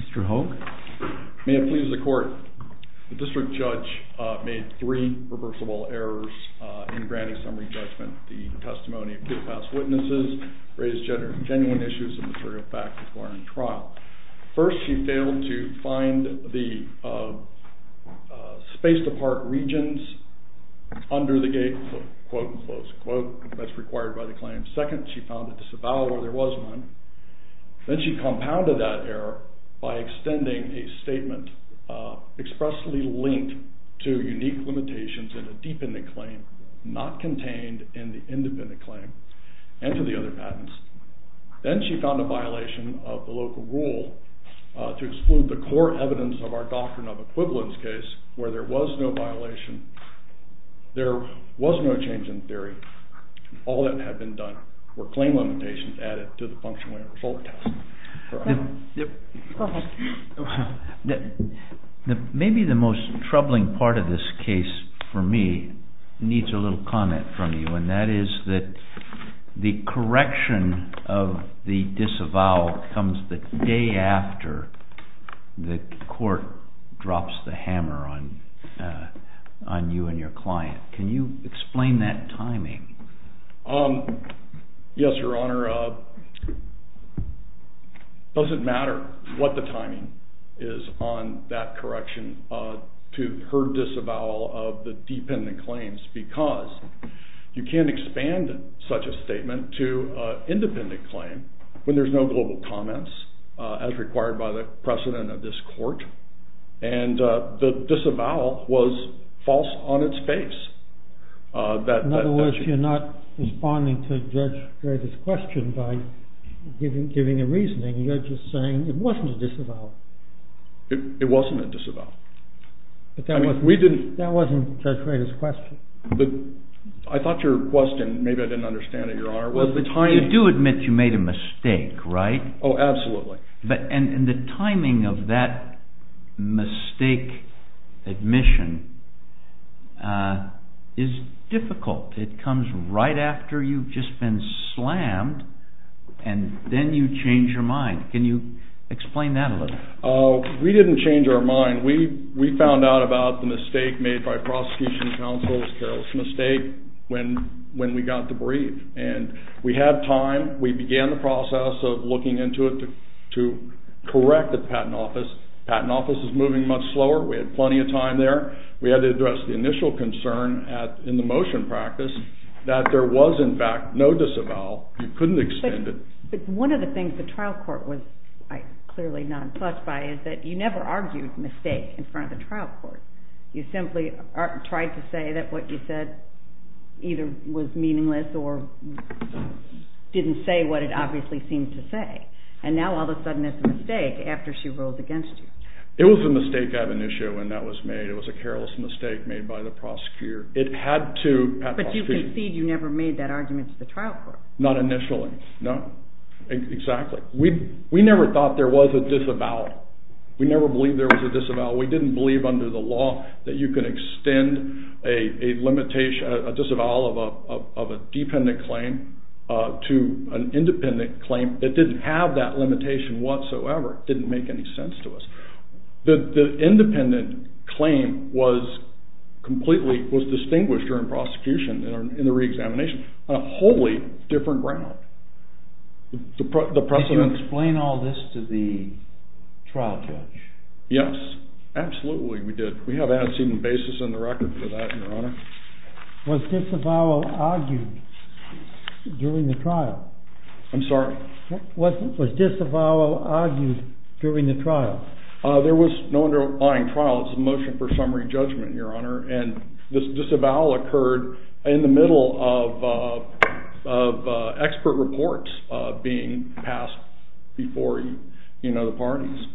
Mr. Hogue. May it please the court, the district judge made three reversible errors in granting summary judgment. The testimony of KILOPASS witnesses raised genuine issues and material facts before any trial. First, she failed to find the space to park regions under the gate, quote unquote, that's required by the claim. Second, she found a disavowal, there was none. Then she compounded that error by extending a statement expressly linked to unique limitations in a dependent claim not contained in the independent claim and to the other patents. Then she found a violation of the local rule to exclude the core evidence of our doctrine of equivalence case where there was no violation, there was no change in theory, all that had been done were claim limitations added to the functional error disorder test. Maybe the most troubling part of this case for me needs a little comment from you and that is that the correction of the disavowal comes the day after the court drops the hammer on you and your client. Can you explain that timing? Yes, your honor. It doesn't matter what the timing is on that correction to her disavowal of the dependent claims because you can't expand such a statement to an independent claim when there's no global comments as required by the precedent of this court and the disavowal was false on its face. In other words, you're not responding to Judge Rader's question by giving a reasoning, you're just saying it wasn't a disavowal. It wasn't a disavowal. That wasn't Judge Rader's question. I thought your question, maybe I didn't understand it, your honor, was the timing. You do admit you made a mistake, right? Oh, absolutely. And the timing of that mistake admission is difficult. It comes right after you've just been slammed and then you change your mind. Can you explain that a little? We didn't change our mind. We found out about the mistake made by prosecution counsel, Carol Smith State, when we got the brief. And we had time, we began the process of looking into it to correct the patent office. The patent office is moving much slower. We had plenty of time there. We had to address the initial concern in the motion practice that there was in fact no disavowal. You couldn't extend it. But one of the things the trial court was clearly not impressed by is that you never argued mistake in front of the trial court. You simply tried to say that what you said either was meaningless or didn't say what it obviously seemed to say. And now all of a sudden it's a mistake after she ruled against you. It was a mistake ad initio when that was made. It was a careless mistake made by the prosecutor. It had to… But you concede you never made that argument to the trial court. Not initially, no. Exactly. We never thought there was a disavowal. We never believed there was a disavowal. We didn't believe under the law that you could extend a disavowal of a dependent claim to an independent claim that didn't have that limitation whatsoever. It didn't make any sense to us. The independent claim was completely, was distinguished during prosecution in the re-examination on a wholly different ground. Did you explain all this to the trial judge? Yes, absolutely we did. We have an antecedent basis in the record for that, your honor. Was disavowal argued during the trial? I'm sorry? Was disavowal argued during the trial? There was no underlying trial. It's a motion for summary judgment, your honor. And this disavowal occurred in the middle of expert reports being passed before the parties.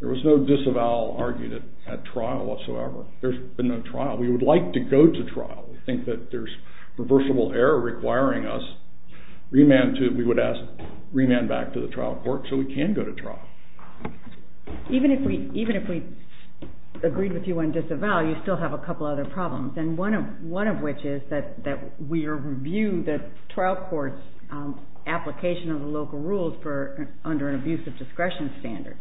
There was no disavowal argued at trial whatsoever. There's been no trial. We would like to go to trial. We think that there's reversible error requiring us. We would ask remand back to the trial court so we can go to trial. Even if we agreed with you on disavowal, you still have a couple other problems. One of which is that we review the trial court's application of the local rules under an abusive discretion standard.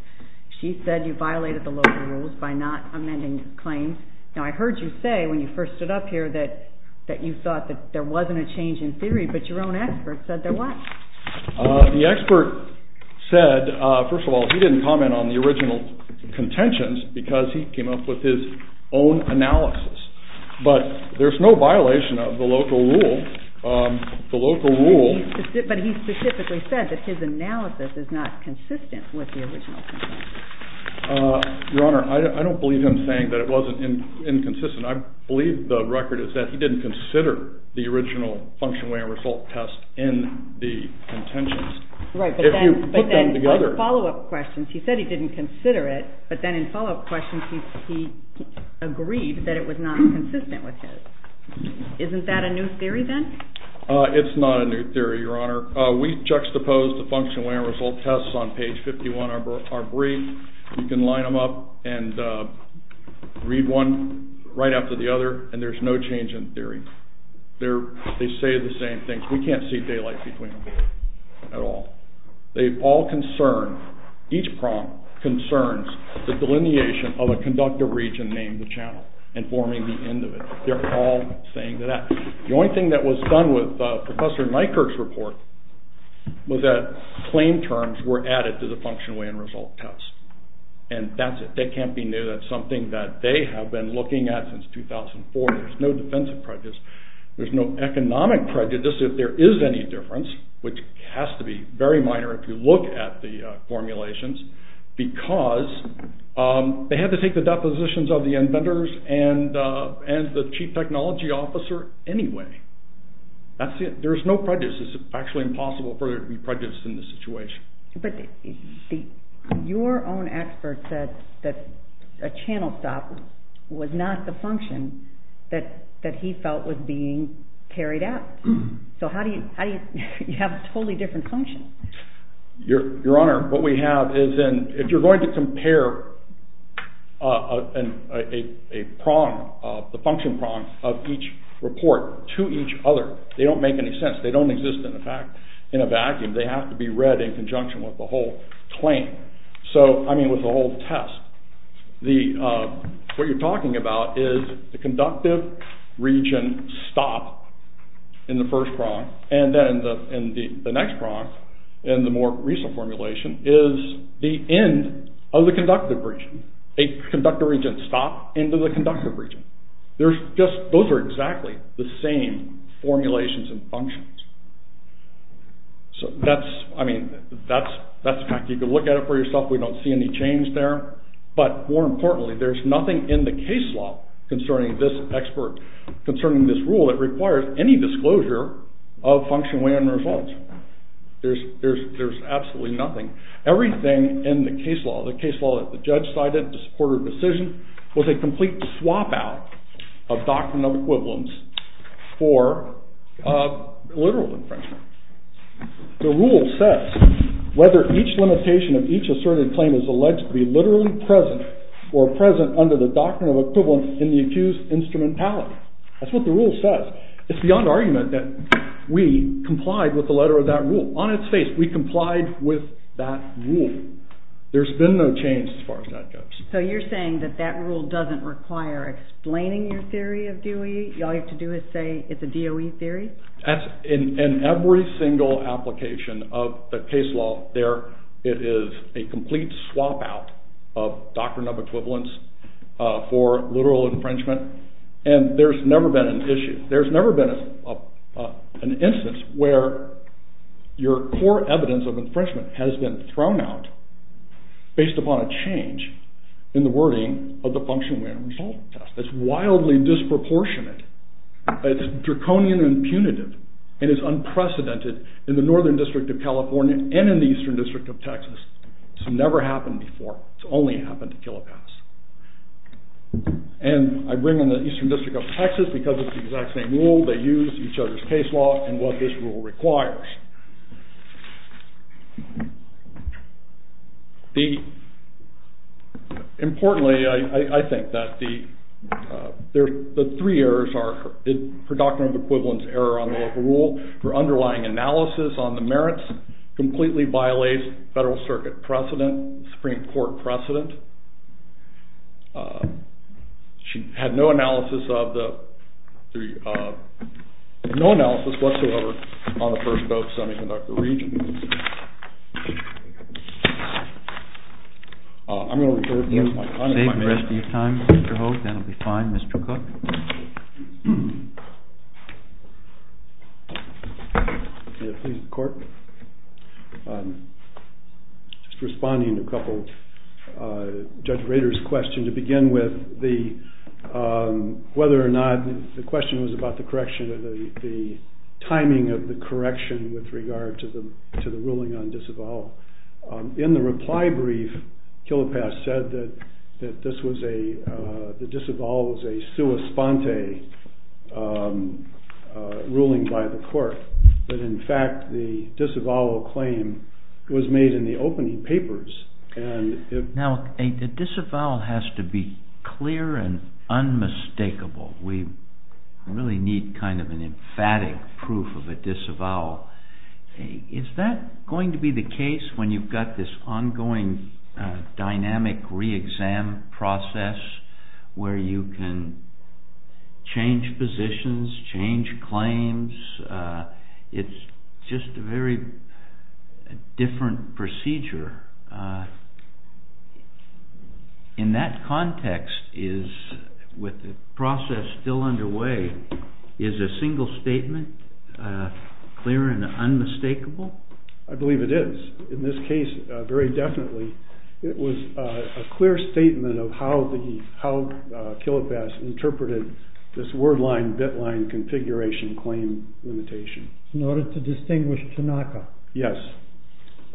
She said you violated the local rules by not amending claims. Now I heard you say when you first stood up here that you thought that there wasn't a change in theory, but your own expert said there was. The expert said, first of all, he didn't comment on the original contentions because he came up with his own analysis. But there's no violation of the local rule. But he specifically said that his analysis is not consistent with the original contentions. Your Honor, I don't believe him saying that it wasn't inconsistent. I believe the record is that he didn't consider the original function, way, and result test in the contentions. Right, but then in follow-up questions he said he didn't consider it, but then in follow-up questions he agreed that it was not consistent with his. Isn't that a new theory then? It's not a new theory, Your Honor. We juxtaposed the function, way, and result tests on page 51 of our brief. You can line them up and read one right after the other, and there's no change in theory. They say the same thing. We can't see daylight between them at all. They all concern, each prong concerns the delineation of a conductor region named the channel and forming the end of it. They're all saying that. The only thing that was done with Professor Nykerk's report was that claim terms were added to the function, way, and result test. And that's it. That can't be new. That's something that they have been looking at since 2004. There's no defensive prejudice. There's no economic prejudice if there is any difference, which has to be very minor if you look at the formulations, because they had to take the depositions of the inventors and the chief technology officer anyway. That's it. There's no prejudice. It's actually impossible for there to be prejudice in this situation. But your own expert said that a channel stop was not the function that he felt was being carried out. So how do you have a totally different function? Your Honor, what we have is if you're going to compare a prong, the function prong of each report to each other, they don't make any sense. They don't exist in a vacuum. They have to be read in conjunction with the whole test. So, I mean, with the whole test, what you're talking about is the conductive region stop in the first prong. And then in the next prong, in the more recent formulation, is the end of the conductive region. A conductive region stop into the conductive region. Those are exactly the same formulations and functions. So that's, I mean, that's a fact. You can look at it for yourself. We don't see any change there. But more importantly, there's nothing in the case law concerning this expert, concerning this rule that requires any disclosure of function, weigh, and result. There's absolutely nothing. Everything in the case law, the case law that the judge cited, the supported decision, was a complete swap out of doctrine of equivalence for literal infringement. The rule says whether each limitation of each asserted claim is alleged to be literally present or present under the doctrine of equivalence in the accused's instrumentality. That's what the rule says. It's beyond argument that we complied with the letter of that rule. On its face, we complied with that rule. There's been no change as far as that goes. So you're saying that that rule doesn't require explaining your theory of DOE? All you have to do is say it's a DOE theory? In every single application of the case law there, it is a complete swap out of doctrine of equivalence for literal infringement. And there's never been an issue. where your core evidence of infringement has been thrown out based upon a change in the wording of the function, weigh, and result test. It's wildly disproportionate. It's draconian and punitive. And it's unprecedented in the Northern District of California and in the Eastern District of Texas. It's never happened before. It's only happened to Killapass. And I bring in the Eastern District of Texas because it's the exact same rule. They use each other's case law and what this rule requires. Importantly, I think that the three errors are for doctrine of equivalence error on the local rule, for underlying analysis on the merits, completely violates Federal Circuit precedent, Supreme Court precedent. She had no analysis of the, no analysis whatsoever on the first DOE semi-conductor region. I'm going to reserve my time. You can save the rest of your time, Mr. Hogue. That will be fine, Mr. Cook. Please, the court. Just responding to a couple of Judge Rader's questions. To begin with, whether or not the question was about the correction or the timing of the correction with regard to the ruling on disavowal. In the reply brief, Killapass said that the disavowal was a sua sponte ruling by the court. But in fact, the disavowal claim was made in the opening papers. Now, a disavowal has to be clear and unmistakable. We really need kind of an emphatic proof of a disavowal. Is that going to be the case when you've got this ongoing dynamic re-exam process, where you can change positions, change claims? It's just a very different procedure. In that context, with the process still underway, is a single statement clear and unmistakable? I believe it is. In this case, very definitely. It was a clear statement of how Killapass interpreted this word-line, bit-line configuration claim limitation. In order to distinguish Tanaka. Yes.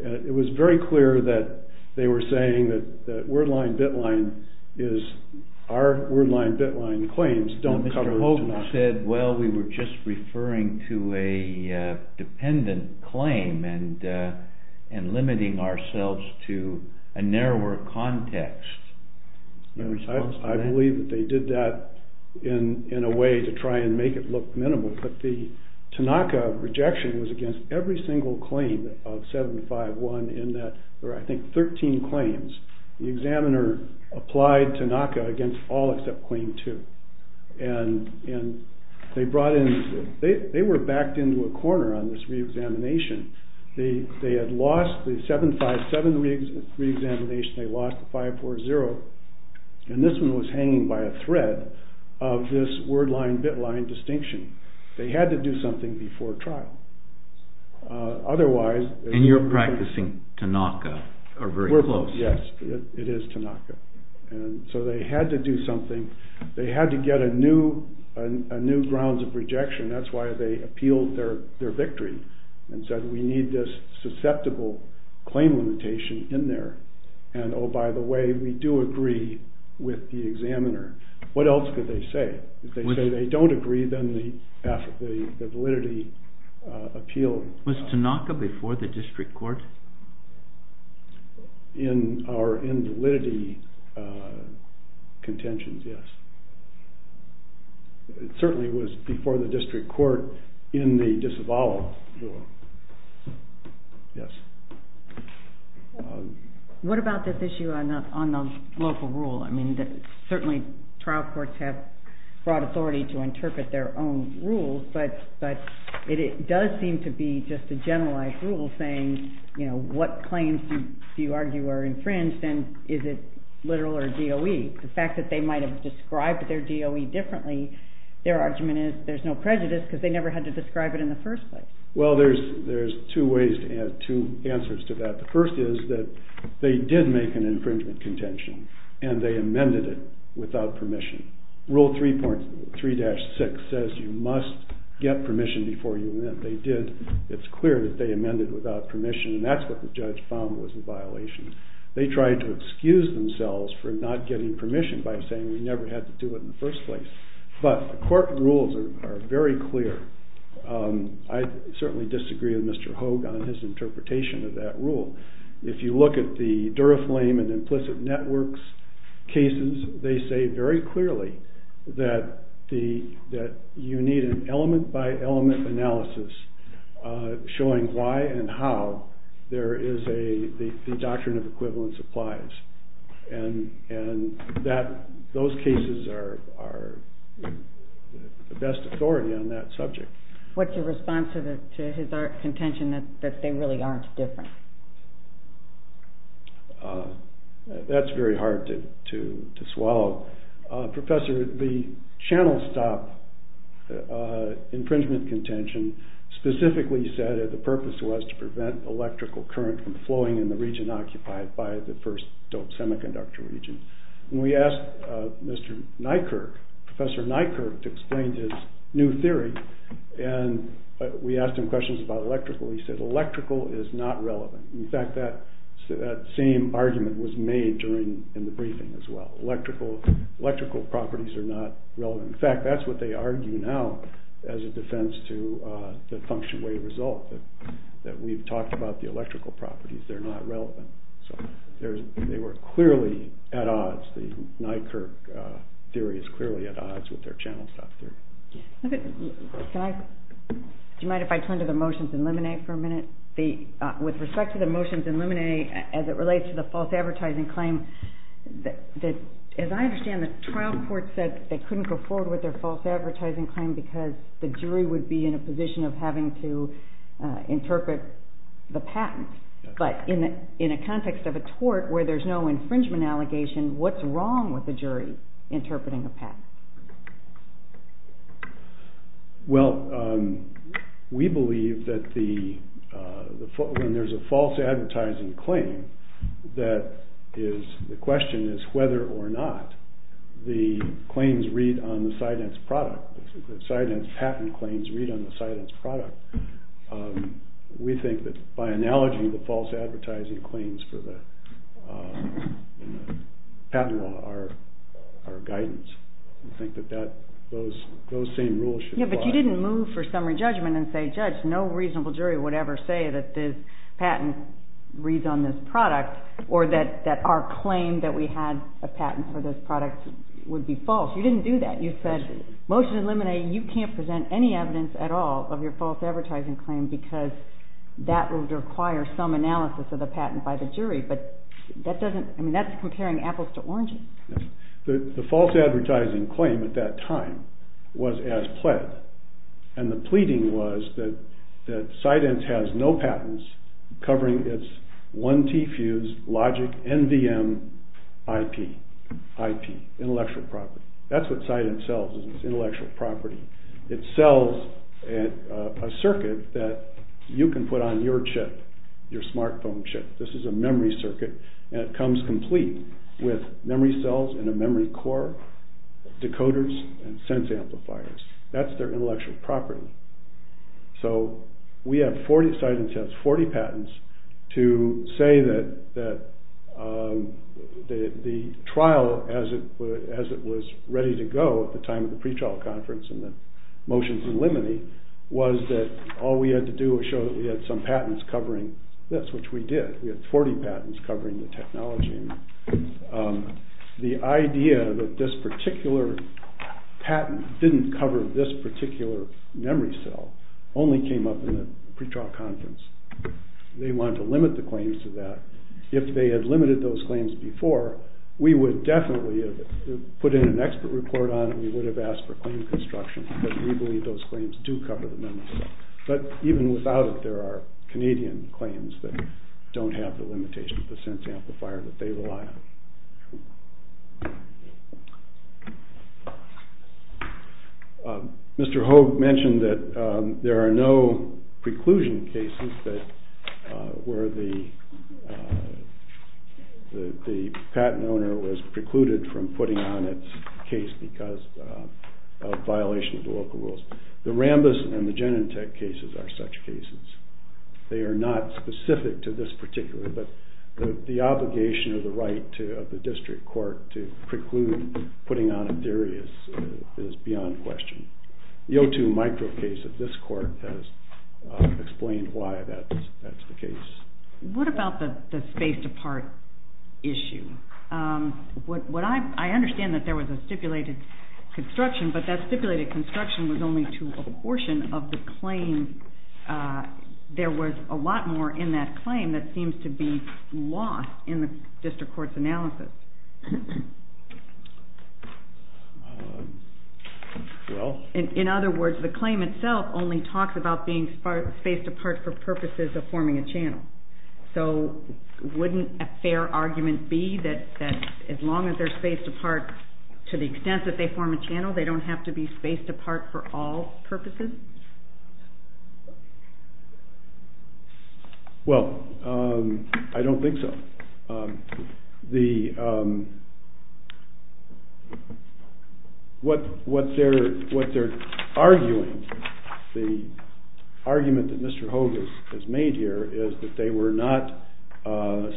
It was very clear that they were saying that our word-line, bit-line claims don't cover Tanaka. Mr. Hogan said, well, we were just referring to a dependent claim and limiting ourselves to a narrower context. I believe that they did that in a way to try and make it look minimal. But the Tanaka rejection was against every single claim of 751 in that there were, I think, 13 claims. The examiner applied Tanaka against all except claim 2. They were backed into a corner on this re-examination. They had lost the 757 re-examination. They lost the 540. And this one was hanging by a thread of this word-line, bit-line distinction. They had to do something before trial. And you're practicing Tanaka, or very close. Yes. It is Tanaka. So they had to do something. They had to get a new grounds of rejection. That's why they appealed their victory and said we need this susceptible claim limitation in there. And, oh, by the way, we do agree with the examiner. What else could they say? If they say they don't agree, then the validity appeal... Was Tanaka before the district court? In our invalidity contentions, yes. It certainly was before the district court in the disavowal. Yes. What about this issue on the local rule? I mean, certainly trial courts have broad authority to interpret their own rules, but it does seem to be just a generalized rule saying, you know, what claims do you argue are infringed and is it literal or DOE? The fact that they might have described their DOE differently, their argument is there's no prejudice because they never had to describe it in the first place. Well, there's two ways to add two answers to that. The first is that they did make an infringement contention, and they amended it without permission. Rule 3.3-6 says you must get permission before you amend. They did. It's clear that they amended without permission, and that's what the judge found was a violation. They tried to excuse themselves for not getting permission by saying we never had to do it in the first place. But the court rules are very clear. I certainly disagree with Mr. Hogue on his interpretation of that rule. If you look at the Duraflame and Implicit Networks cases, they say very clearly that you need an element-by-element analysis showing why and how the doctrine of equivalence applies, and those cases are the best authority on that subject. What's your response to his contention that they really aren't different? That's very hard to swallow. Professor, the channel stop infringement contention specifically said that the purpose was to prevent electrical current from flowing in the region occupied by the first doped semiconductor region. We asked Professor Nykerk to explain his new theory, and we asked him questions about electrical. He said electrical is not relevant. In fact, that same argument was made in the briefing as well. Electrical properties are not relevant. In fact, that's what they argue now as a defense to the function-way result, that we've talked about the electrical properties. They're not relevant. So they were clearly at odds. The Nykerk theory is clearly at odds with their channel stop theory. Do you mind if I turn to the motions in Lemonet for a minute? With respect to the motions in Lemonet, as it relates to the false advertising claim, as I understand it, trial courts said they couldn't go forward with their false advertising claim because the jury would be in a position of having to interpret the patent. But in a context of a tort where there's no infringement allegation, what's wrong with the jury interpreting the patent? Well, we believe that when there's a false advertising claim, the question is whether or not the claims read on the sidence product, the patent claims read on the sidence product. We think that by analogy, the false advertising claims for the patent law are guidance. We think that those same rules should apply. Yeah, but you didn't move for summary judgment and say, judge, no reasonable jury would ever say that this patent reads on this product or that our claim that we had a patent for this product would be false. You didn't do that. You said, motions in Lemonet, you can't present any evidence at all of your false advertising claim because that would require some analysis of the patent by the jury. But that doesn't, I mean, that's comparing apples to oranges. The false advertising claim at that time was as pled. And the pleading was that sidence has no patents covering its 1T fused logic NVM IP, IP, intellectual property. That's what sidence sells is its intellectual property. It sells a circuit that you can put on your chip, your smartphone chip. This is a memory circuit, and it comes complete with memory cells and a memory core, decoders and sense amplifiers. That's their intellectual property. So we have 40, sidence has 40 patents to say that the trial as it was ready to go at the time of the pretrial conference and the motions in Lemonet was that all we had to do was show that we had some patents covering this, which we did. We had 40 patents covering the technology. The idea that this particular patent didn't cover this particular memory cell only came up in the pretrial conference. They wanted to limit the claims to that. If they had limited those claims before, we would definitely have put in an expert report on it. We would have asked for claim construction, but we believe those claims do cover the memory cell. But even without it, there are Canadian claims that don't have the limitation of the sense amplifier that they rely on. Mr. Hogue mentioned that there are no preclusion cases where the patent owner was precluded from putting on its case because of violation of the local rules. The Rambis and the Genentech cases are such cases. They are not specific to this particular, but the obligation of the right of the district court to preclude putting on a theory is beyond question. The O2 micro case of this court has explained why that's the case. What about the space to part issue? I understand that there was a stipulated construction, but that stipulated construction was only to a portion of the claim. There was a lot more in that claim that seems to be lost in the district court's analysis. In other words, the claim itself only talks about being spaced apart for purposes of forming a channel. So wouldn't a fair argument be that as long as they're spaced apart to the extent that they form a channel, they don't have to be spaced apart for all purposes? Well, I don't think so. What they're arguing, the argument that Mr. Hogan has made here, is that they were not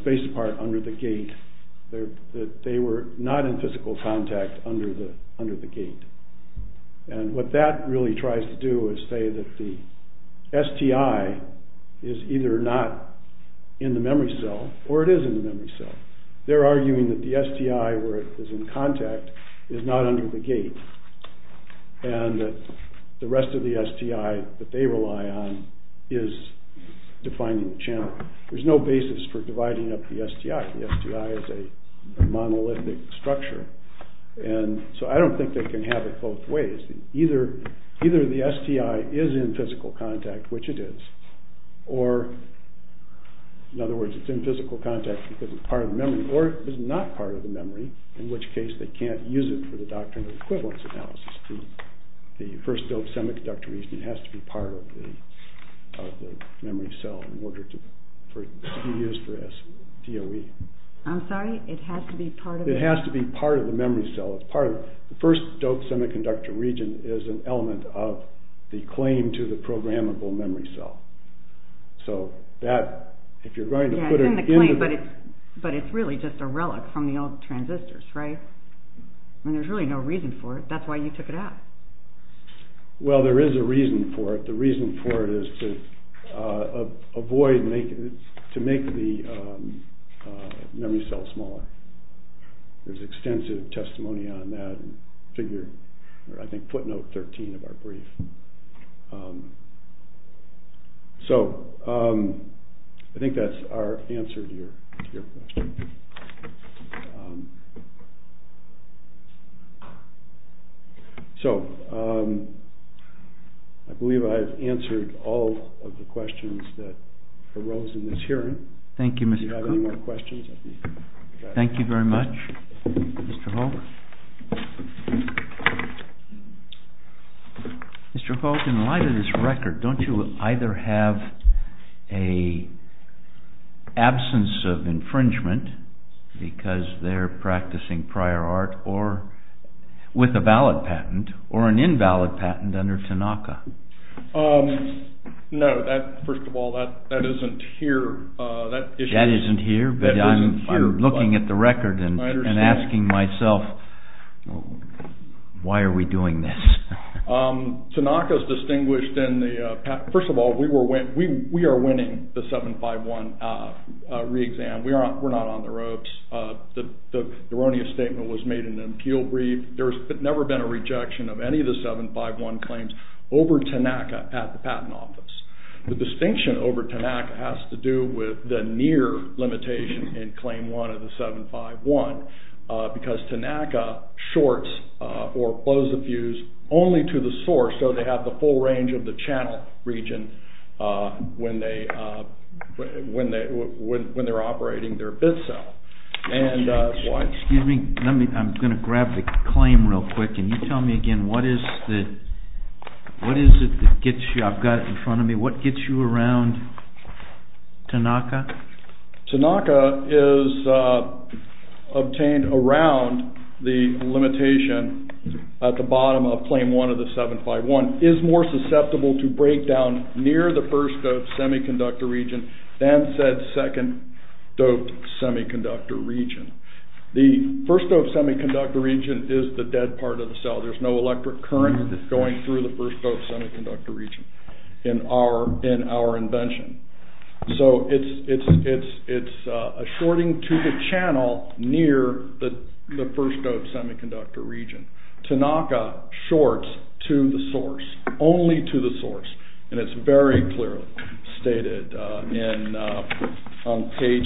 spaced apart under the gate. They were not in physical contact under the gate. And what that really tries to do is say that the STI is either not in the memory cell, or it is in the memory cell. They're arguing that the STI, where it is in contact, is not under the gate. And the rest of the STI that they rely on is defining the channel. There's no basis for dividing up the STI. The STI is a monolithic structure. And so I don't think they can have it both ways. Either the STI is in physical contact, which it is, or, in other words, it's in physical contact because it's part of the memory, or it is not part of the memory, in which case they can't use it for the doctrine of equivalence analysis. The first doped semiconductor reason has to be part of the memory cell in order to be used for STOE. I'm sorry? It has to be part of the memory? It's part of the memory cell. The first doped semiconductor region is an element of the claim to the programmable memory cell. So that, if you're going to put it in the... Yeah, it's in the claim, but it's really just a relic from the old transistors, right? I mean, there's really no reason for it. That's why you took it out. Well, there is a reason for it. The reason for it is to avoid, to make the memory cell smaller. There's extensive testimony on that, and I think footnote 13 of our brief. So, I think that's our answer to your question. So, I believe I've answered all of the questions that arose in this hearing. Thank you, Mr. Cook. Thank you very much, Mr. Holt. Mr. Holt, in light of this record, don't you either have an absence of infringement, because they're practicing prior art with a valid patent, or an invalid patent under Tanaka? No, first of all, that isn't here. That isn't here, but I'm looking at the record and asking myself, why are we doing this? Tanaka's distinguished in the... First of all, we are winning the 751 re-exam. We're not on the ropes. The erroneous statement was made in an appeal brief. There's never been a rejection of any of the 751 claims over Tanaka at the Patent Office. The distinction over Tanaka has to do with the near limitation in Claim 1 of the 751, because Tanaka shorts or blows a fuse only to the source, so they have the full range of the channel region when they're operating their bid cell. Excuse me, I'm going to grab the claim real quick. Can you tell me again, what is it that gets you... I've got it in front of me. What gets you around Tanaka? Tanaka is obtained around the limitation at the bottom of Claim 1 of the 751. It is more susceptible to breakdown near the first doped semiconductor region than said second doped semiconductor region. The first doped semiconductor region is the dead part of the cell. There's no electric current going through the first doped semiconductor region in our invention. So it's a shorting to the channel near the first doped semiconductor region. Tanaka shorts to the source, only to the source, and it's very clearly stated on page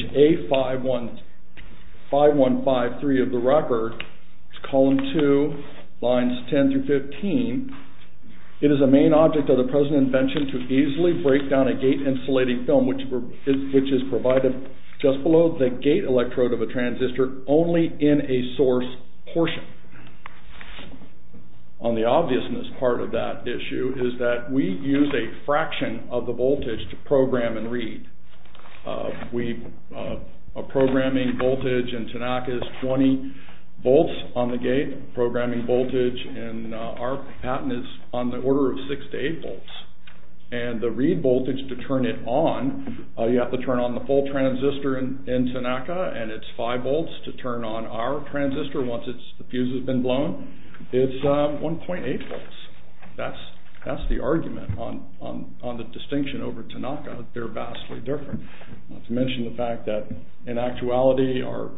A5153 of the record, column 2, lines 10 through 15. It is a main object of the present invention to easily break down a gate insulating film, which is provided just below the gate electrode of a transistor only in a source portion. On the obviousness part of that issue is that we use a fraction of the voltage to program and read. A programming voltage in Tanaka is 20 volts on the gate. Programming voltage in our patent is on the order of 6 to 8 volts. And the read voltage to turn it on, you have to turn on the full transistor in Tanaka, and it's 5 volts to turn on our transistor once the fuse has been blown. It's 1.8 volts. That's the argument on the distinction over Tanaka. They're vastly different. Not to mention the fact that, in actuality, our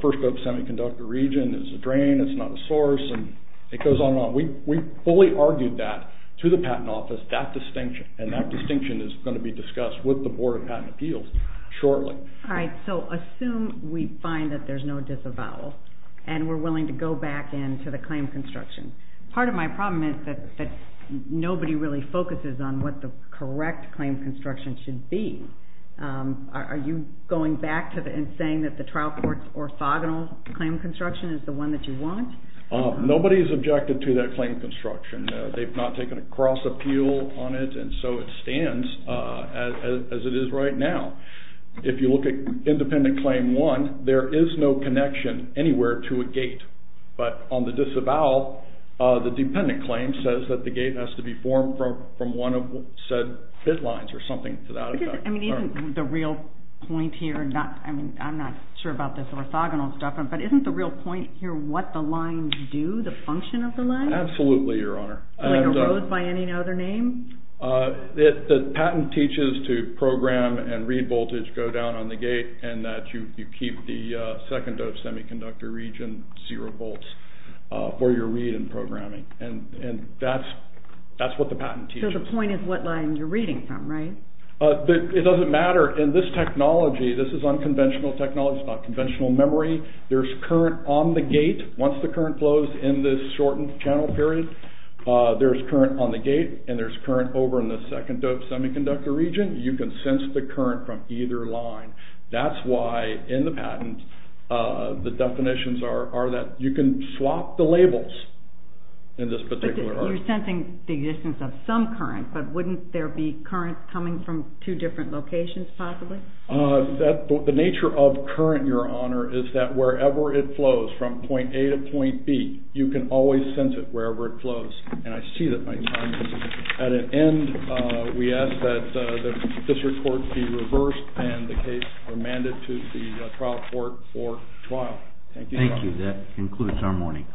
first doped semiconductor region is a drain, it's not a source, and it goes on and on. We fully argued that to the Patent Office, that distinction, and that distinction is going to be discussed with the Board of Patent Appeals shortly. All right, so assume we find that there's no disavowal, and we're willing to go back in to the claim construction. Part of my problem is that nobody really focuses on what the correct claim construction should be. Are you going back and saying that the trial court's orthogonal claim construction is the one that you want? Nobody's objected to that claim construction. They've not taken a cross-appeal on it, and so it stands as it is right now. If you look at Independent Claim 1, there is no connection anywhere to a gate, but on the disavowal, the dependent claim says that the gate has to be formed from one of said bit lines, or something to that effect. Isn't the real point here, I'm not sure about this orthogonal stuff, but isn't the real point here what the lines do, the function of the lines? Absolutely, Your Honor. Like a road by any other name? The patent teaches to program and read voltage go down on the gate, and that you keep the second-dose semiconductor region zero volts for your read and programming, and that's what the patent teaches. So the point is what line you're reading from, right? It doesn't matter. In this technology, this is unconventional technology, it's not conventional memory. There's current on the gate. Once the current flows in this shortened channel period, there's current on the gate, and there's current over in the second-dose semiconductor region. You can sense the current from either line. That's why in the patent, the definitions are that you can swap the labels in this particular order. You're sensing the existence of some current, but wouldn't there be current coming from two different locations, possibly? The nature of current, Your Honor, is that wherever it flows from point A to point B, you can always sense it wherever it flows, and I see that my time is up. At an end, we ask that the district court be reversed and the case remanded to the trial court for trial. Thank you, Your Honor. Thank you. That concludes our morning.